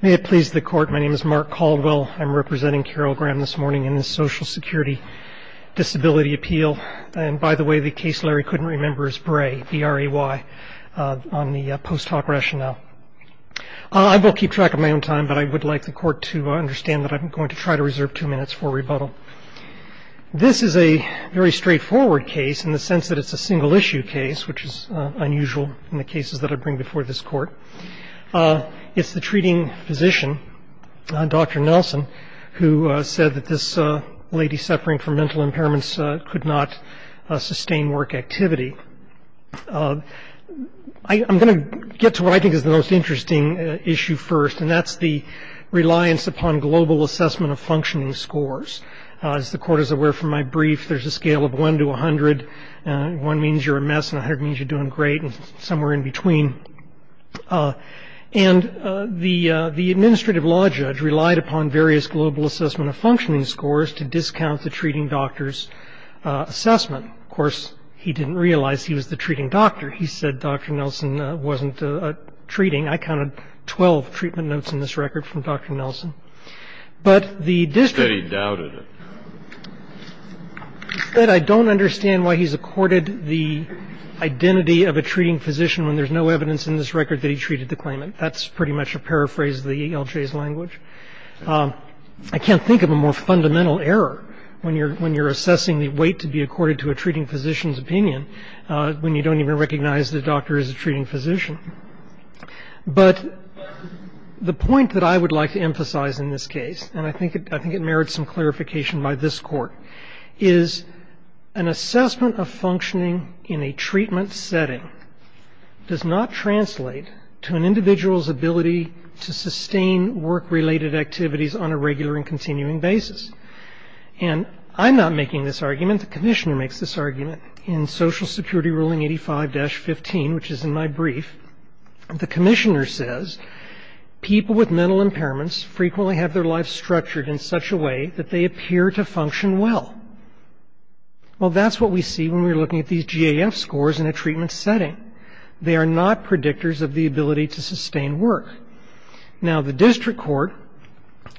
May it please the court, my name is Mark Caldwell. I'm representing Carol Graham this morning in the Social Security Disability Appeal. And by the way, the case Larry couldn't remember is Bray, B-R-A-Y, on the post hoc rationale. I will keep track of my own time, but I would like the court to understand that I'm going to try to reserve two minutes for rebuttal. This is a very straightforward case in the sense that it's a single issue case, which is unusual in the cases that I bring before this court. It's the treating physician, Dr. Nelson, who said that this lady suffering from mental impairments could not sustain work activity. I'm going to get to what I think is the most interesting issue first, and that's the reliance upon global assessment of functioning scores. As the court is aware from my brief, there's a scale of 1 to 100. One means you're a mess, and 100 means you're doing great, and somewhere in between. And the administrative law judge relied upon various global assessment of functioning scores to discount the treating doctor's assessment. Of course, he didn't realize he was the treating doctor. He said Dr. Nelson wasn't treating. I counted 12 treatment notes in this record from Dr. Nelson. But the district said he doubted it. I don't understand why he's accorded the identity of a treating physician when there's no evidence in this record that he treated the claimant. That's pretty much a paraphrase of the ELJ's language. I can't think of a more fundamental error when you're assessing the weight to be accorded to a treating physician's opinion when you don't even recognize the doctor is a treating physician. But the point that I would like to emphasize in this case, and I think it merits some clarification by this court, is an assessment of functioning in a treatment setting does not translate to an individual's ability to sustain work-related activities on a regular and continuing basis. And I'm not making this argument. The commissioner makes this argument in Social Security Ruling 85-15, which is in my brief. The commissioner says people with mental impairments frequently have their lives structured in such a way that they appear to function well. Well, that's what we see when we're looking at these GAF scores in a treatment setting. They are not predictors of the ability to sustain work. Now the district court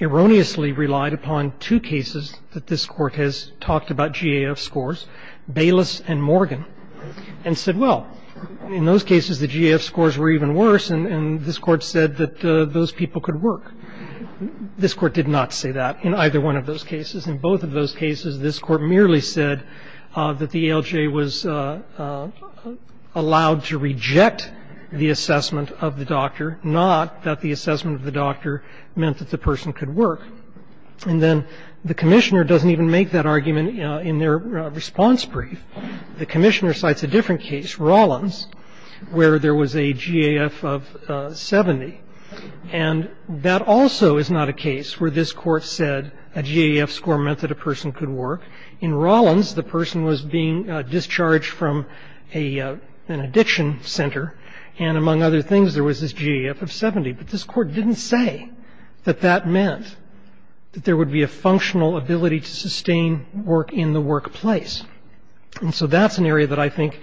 erroneously relied upon two cases that this court has talked about GAF scores, Bayless and Morgan, and said, well, in those cases the GAF scores were even worse and this court said that those people could work. This court did not say that in either one of those cases. In both of those cases, this court merely said that the ELJ was allowed to reject the assessment of the doctor, not that the assessment of the doctor meant that the person could work. And then the commissioner doesn't even make that argument in their response brief. The commissioner cites a different case, Rollins, where there was a GAF of 70. And that also is not a case where this court said a GAF score meant that a person could work. In Rollins, the person was being discharged from an addiction center, and among other things there was this GAF score that meant that there would be a functional ability to sustain work in the workplace. And so that's an area that I think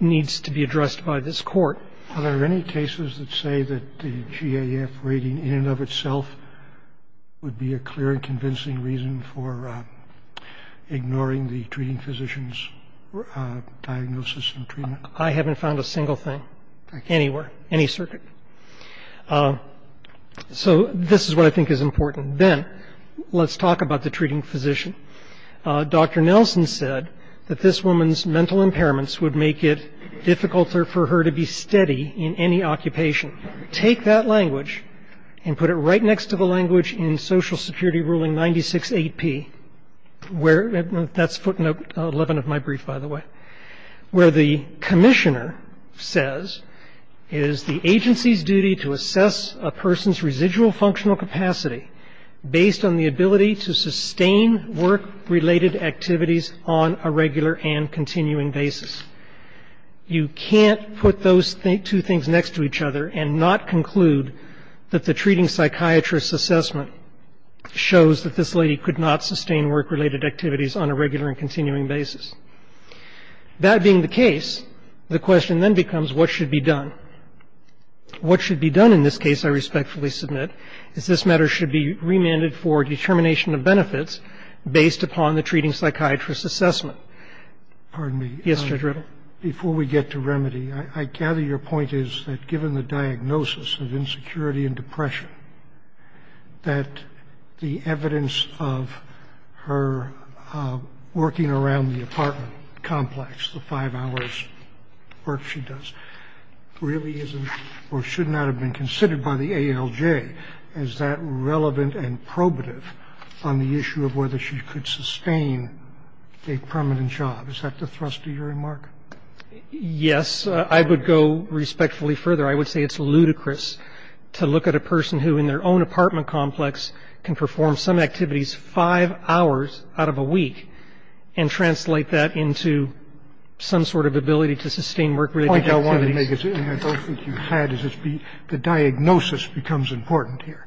needs to be addressed by this court. Are there any cases that say that the GAF rating in and of itself would be a clear and convincing reason for ignoring the treating physician's diagnosis and treatment? I haven't found a single thing anywhere, any circuit. So this is what I think is important. Then let's talk about the treating physician. Dr. Nelson said that this woman's mental impairments would make it difficult for her to be steady in any occupation. Take that language and put it right next to the language in Social Security Ruling 96-8P, where that's footnote 11 of my brief, by the way, where the commissioner says it is the agency's duty to assess a person's residual functional capacity based on the ability to sustain work-related activities on a regular and continuing basis. You can't put those two things next to each other and not conclude that the treating psychiatrist's assessment shows that this lady could not sustain work-related activities on a regular and continuing basis. That being the case, the question then becomes what should be done. What should be done in this case, I respectfully submit, is this matter should be remanded for determination of benefits based upon the treating psychiatrist's assessment. Yes, Judge Rittle. Judge Rittle Before we get to remedy, I gather your point is that given the diagnosis of insecurity and depression, that the evidence of her working around the apartment complex, the five hours' work she does, really isn't or should not have been considered by the ALJ as that relevant and probative on the issue of whether she could sustain a permanent job. Is that the thrust of your remark? Yes. I would go respectfully further. I would say it's ludicrous to look at a person who in their own apartment complex can perform some activities five hours out of a week and translate that into some sort of ability to sustain work-related activities. The point I wanted to make is that the diagnosis becomes important here.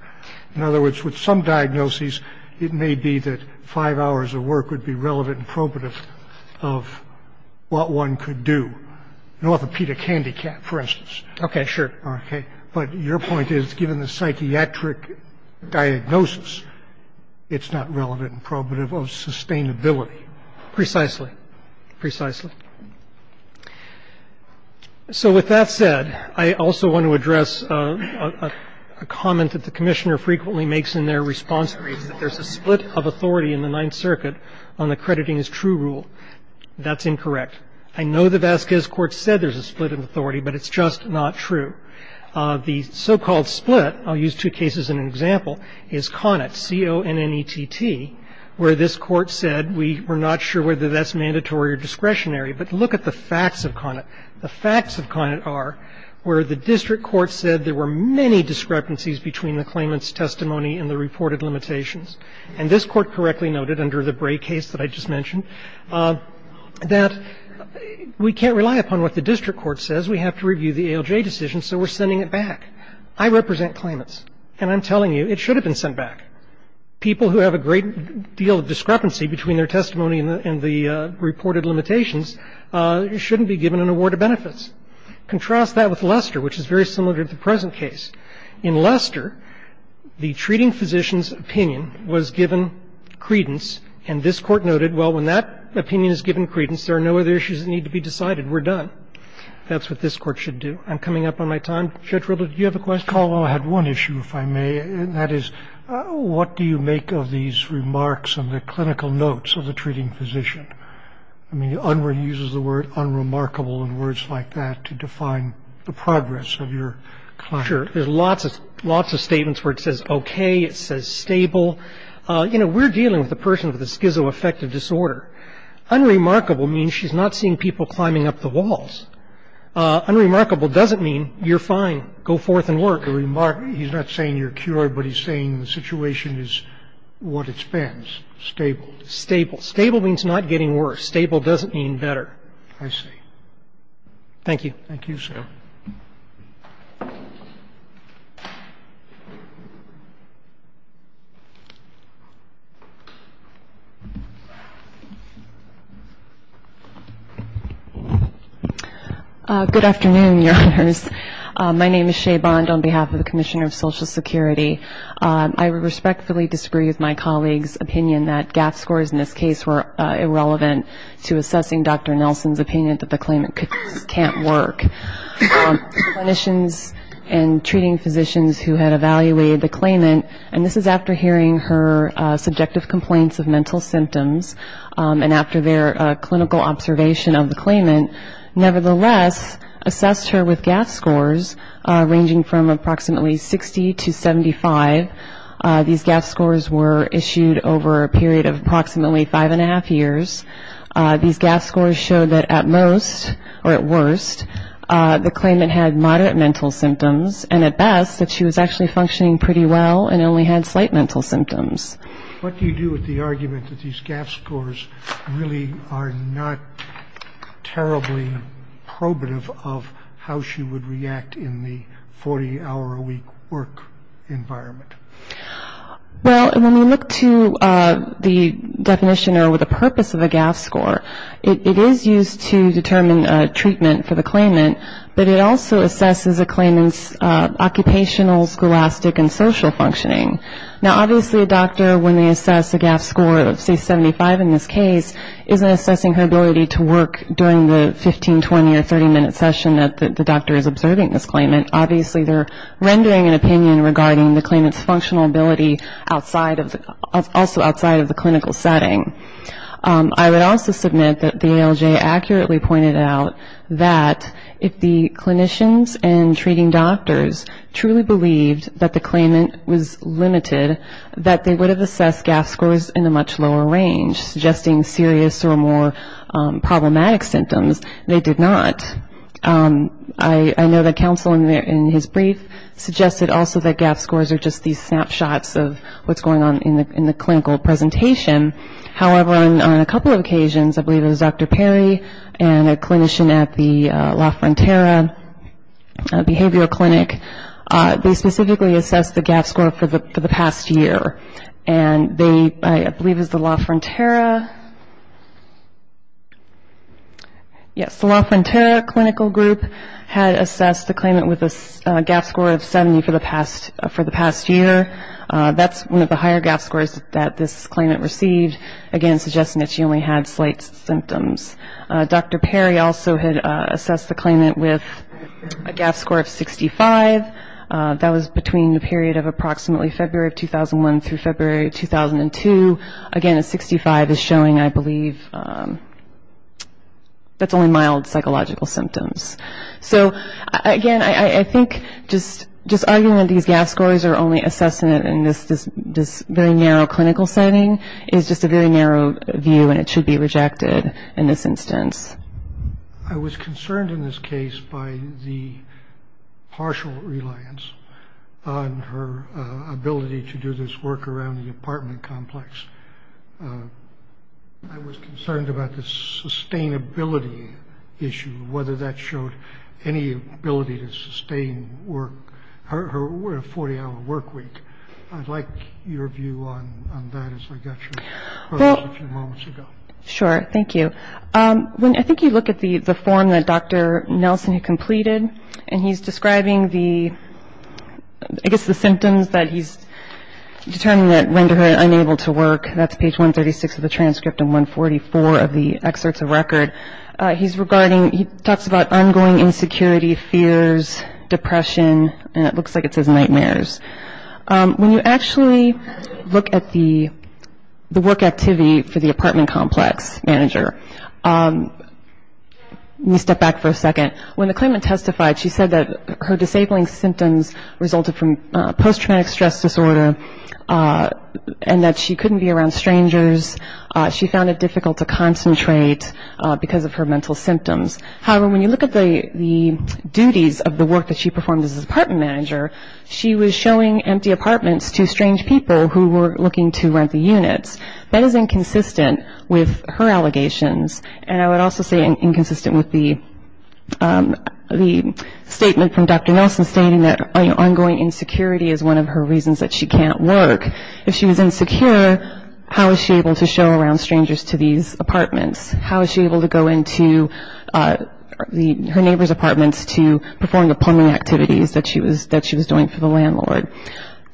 In other words, with some diagnoses, it may be that five hours of work would be relevant and probative of what one could do, an orthopedic handicap, for instance. Okay. Sure. Okay. But your point is, given the psychiatric diagnosis, it's not relevant and probative of sustainability. Precisely. Precisely. So with that said, I also want to address a comment that the Commissioner frequently makes in their response brief, that there's a split of authority in the Ninth Circuit on accrediting as true rule. That's incorrect. I know the Vasquez Court said there's a split in authority, but it's just not true. The so-called split, I'll use two cases in an example, is Connett, C-O-N-N-E-T-T, where this Court said we're not sure whether that's mandatory or discretionary. But look at the facts of Connett. The facts of Connett are where the district court said there were many discrepancies between the claimant's testimony and the reported limitations. And this Court correctly noted, under the Bray case that I just mentioned, that we can't rely upon what the district court says. We have to review the ALJ decision, so we're sending it back. I represent claimants, and I'm telling you it should have been sent back. People who have a great deal of discrepancy between their testimony and the reported limitations shouldn't be given an award of benefits. Contrast that with Lester, which is very similar to the present case. In Lester, the treating physician's opinion was given credence, and this Court noted, well, when that opinion is given credence, there are no other issues that need to be decided. We're done. That's what this Court should do. I'm coming up on my time. Judge Rilder, do you have a question? Rilder, I had one issue, if I may, and that is, what do you make of these remarks and the clinical notes of the treating physician? I mean, Unruh uses the word unremarkable and words like that to define the progress of your client. If you're not sure, there are lots of statements where it says okay, it says stable. You know, we're dealing with a person with a schizoaffective disorder. Unremarkable means she's not seeing people climbing up the walls. Unremarkable doesn't mean you're fine, go forth and work. He's not saying you're cured, but he's saying the situation is what it's been, stable. Stable. Stable means not getting worse. Stable doesn't mean better. I see. Thank you. Thank you, sir. Good afternoon, Your Honors. My name is Shay Bond on behalf of the Commissioner of Social Security. I respectfully disagree with my colleague's opinion that GAAP scores in this case were irrelevant to assessing Dr. Nelson's opinion that the claimant can't work. Clinicians and treating physicians who had evaluated the claimant, and this is after hearing her subjective complaints of mental symptoms and after their clinical observation of the claimant, nevertheless assessed her with GAAP scores ranging from approximately 60 to 75. These GAAP scores were issued over a period of approximately five and a half years. These GAAP scores showed that at most, or at worst, the claimant had moderate mental symptoms and at best that she was actually functioning pretty well and only had slight mental symptoms. What do you do with the argument that these GAAP scores really are not terribly probative of how she would react in the 40-hour-a-week work environment? Well, when we look to the definition or the purpose of a GAAP score, it is used to determine treatment for the claimant, but it also assesses a claimant's occupational, scholastic, and social functioning. Now, obviously a doctor, when they assess a GAAP score of, say, 75 in this case, isn't assessing her ability to work during the 15, 20, or 30-minute session that the doctor is observing this claimant. Obviously they're rendering an opinion regarding the claimant's functional ability also outside of the clinical setting. I would also submit that the ALJ accurately pointed out that if the clinicians and treating doctors truly believed that the claimant was limited, that they would have assessed GAAP scores in a much lower range, suggesting serious or more problematic symptoms. They did not. I know that counsel in his brief suggested also that GAAP scores are just these snapshots of what's going on in the clinical presentation. However, on a couple of occasions, I believe it was Dr. Perry and a clinician at the La Frontera Behavioral Clinic, they specifically assessed the GAAP score for the past year. And they, I believe it was the La Frontera, yes, the La Frontera Clinical Group had assessed the claimant with a GAAP score of 70 for the past year. That's one of the higher GAAP scores that this claimant received, again, suggesting that she only had slight symptoms. Dr. Perry also had assessed the claimant with a GAAP score of 65. That was between the period of approximately February of 2001 through February of 2002. Again, a 65 is showing, I believe, that's only mild psychological symptoms. So, again, I think just arguing that these GAAP scores are only assessed in this very narrow clinical setting is just a very narrow view, and it should be rejected in this instance. I was concerned in this case by the partial reliance on her ability to do this work around the apartment complex. I was concerned about the sustainability issue, whether that showed any ability to sustain her 40-hour work week. I'd like your view on that as I got your question a few moments ago. Sure, thank you. I think you look at the form that Dr. Nelson had completed, and he's describing the, I guess, the symptoms that he's determined that render her unable to work. That's page 136 of the transcript and 144 of the excerpts of record. He's regarding, he talks about ongoing insecurity, fears, depression, and it looks like it says nightmares. When you actually look at the work activity for the apartment complex manager, let me step back for a second. When the claimant testified, she said that her disabling symptoms resulted from post-traumatic stress disorder and that she couldn't be around strangers. She found it difficult to concentrate because of her mental symptoms. However, when you look at the duties of the work that she performed as an apartment manager, she was showing empty apartments to strange people who were looking to rent the units. That is inconsistent with her allegations, and I would also say inconsistent with the statement from Dr. Nelson stating that ongoing insecurity is one of her reasons that she can't work. If she was insecure, how was she able to show around strangers to these apartments? How was she able to go into her neighbor's apartments to perform the plumbing activities that she was doing for the landlord?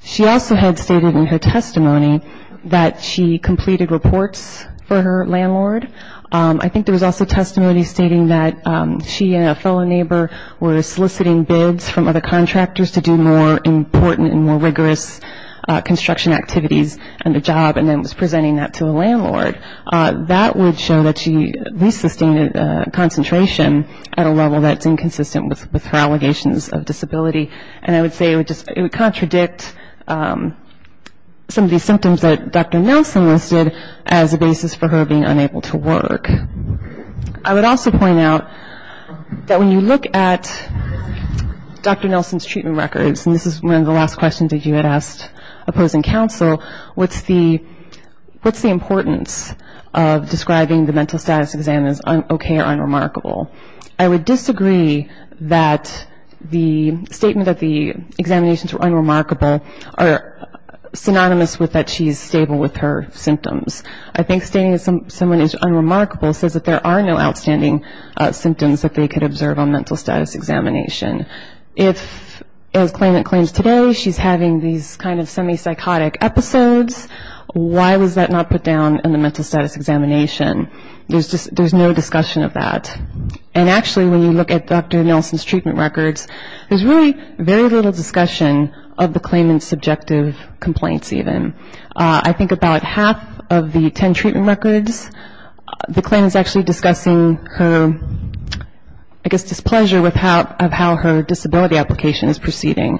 She also had stated in her testimony that she completed reports for her landlord. I think there was also testimony stating that she and a fellow neighbor were soliciting bids from other contractors to do more important and more rigorous construction activities and a job and then was presenting that to the landlord. That would show that she at least sustained concentration at a level that's inconsistent with her allegations of disability, and I would say it would contradict some of these symptoms that Dr. Nelson listed as a basis for her being unable to work. I would also point out that when you look at Dr. Nelson's treatment records, and this is one of the last questions that you had asked opposing counsel, what's the importance of describing the mental status exam as okay or unremarkable? I would disagree that the statement that the examinations were unremarkable are synonymous with that she's stable with her symptoms. I think stating that someone is unremarkable says that there are no outstanding symptoms that they could observe on mental status examination. If, as claimant claims today, she's having these kind of semi-psychotic episodes, why was that not put down in the mental status examination? There's no discussion of that. And actually, when you look at Dr. Nelson's treatment records, there's really very little discussion of the claimant's subjective complaints even. I think about half of the ten treatment records, the claimant's actually discussing her, I guess, displeasure with how her disability application is proceeding.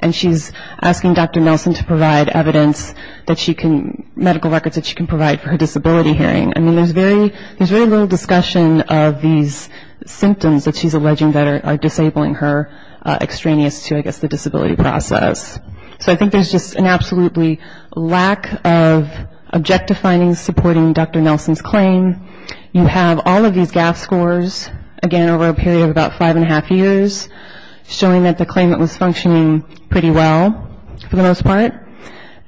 And she's asking Dr. Nelson to provide evidence that she can, medical records that she can provide for her disability hearing. I mean, there's very little discussion of these symptoms that she's alleging that are disabling her extraneous to, I guess, the disability process. So I think there's just an absolutely lack of objective findings supporting Dr. Nelson's claim. You have all of these GAF scores, again, over a period of about five and a half years, showing that the claimant was functioning pretty well for the most part.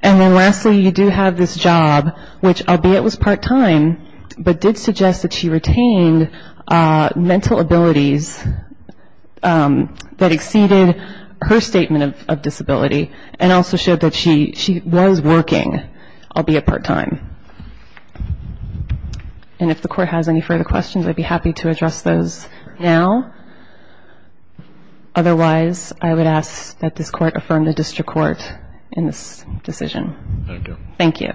And then lastly, you do have this job, which, albeit it was part-time, but did suggest that she retained mental abilities that exceeded her statement of disability and also showed that she was working, albeit part-time. And if the court has any further questions, I'd be happy to address those now. Otherwise, I would ask that this court affirm the district court in this decision. Thank you.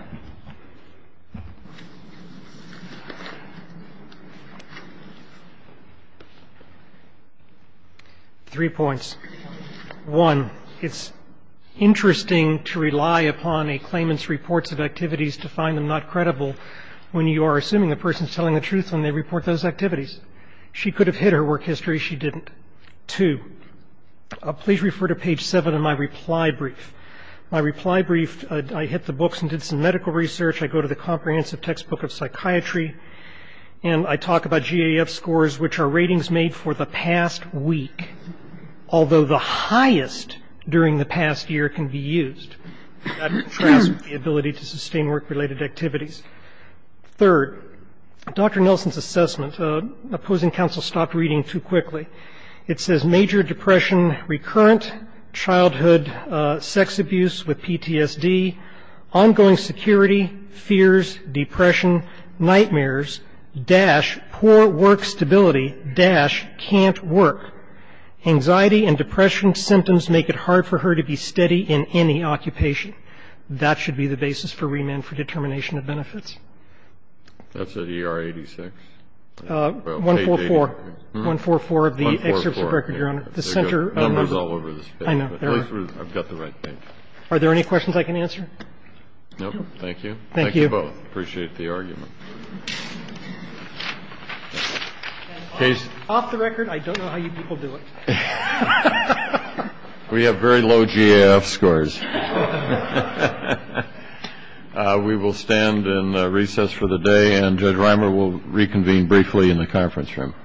Three points. One, it's interesting to rely upon a claimant's reports of activities to find them not credible when you are assuming the person is telling the truth when they report those activities. She could have hid her work history. She didn't. Two, please refer to page 7 of my reply brief. My reply brief, I hit the books and did some medical research. I go to the comprehensive textbook of psychiatry, and I talk about GAF scores, which are ratings made for the past week, although the highest during the past year can be used. That contrasts with the ability to sustain work-related activities. Third, Dr. Nelson's assessment, opposing counsel stopped reading too quickly. It says major depression recurrent, childhood sex abuse with PTSD, ongoing security, fears, depression, nightmares, dash, poor work stability, dash, can't work. Anxiety and depression symptoms make it hard for her to be steady in any occupation. That should be the basis for remand for determination of benefits. That's at ER 86. 144. 144 of the excerpts of record, Your Honor. The center. Numbers all over this page. I know. I've got the right page. Are there any questions I can answer? No. Thank you. Thank you. Thank you both. Appreciate the argument. Off the record, I don't know how you people do it. We have very low GAF scores. We will stand in recess for the day. And Judge Reimer will reconvene briefly in the conference room.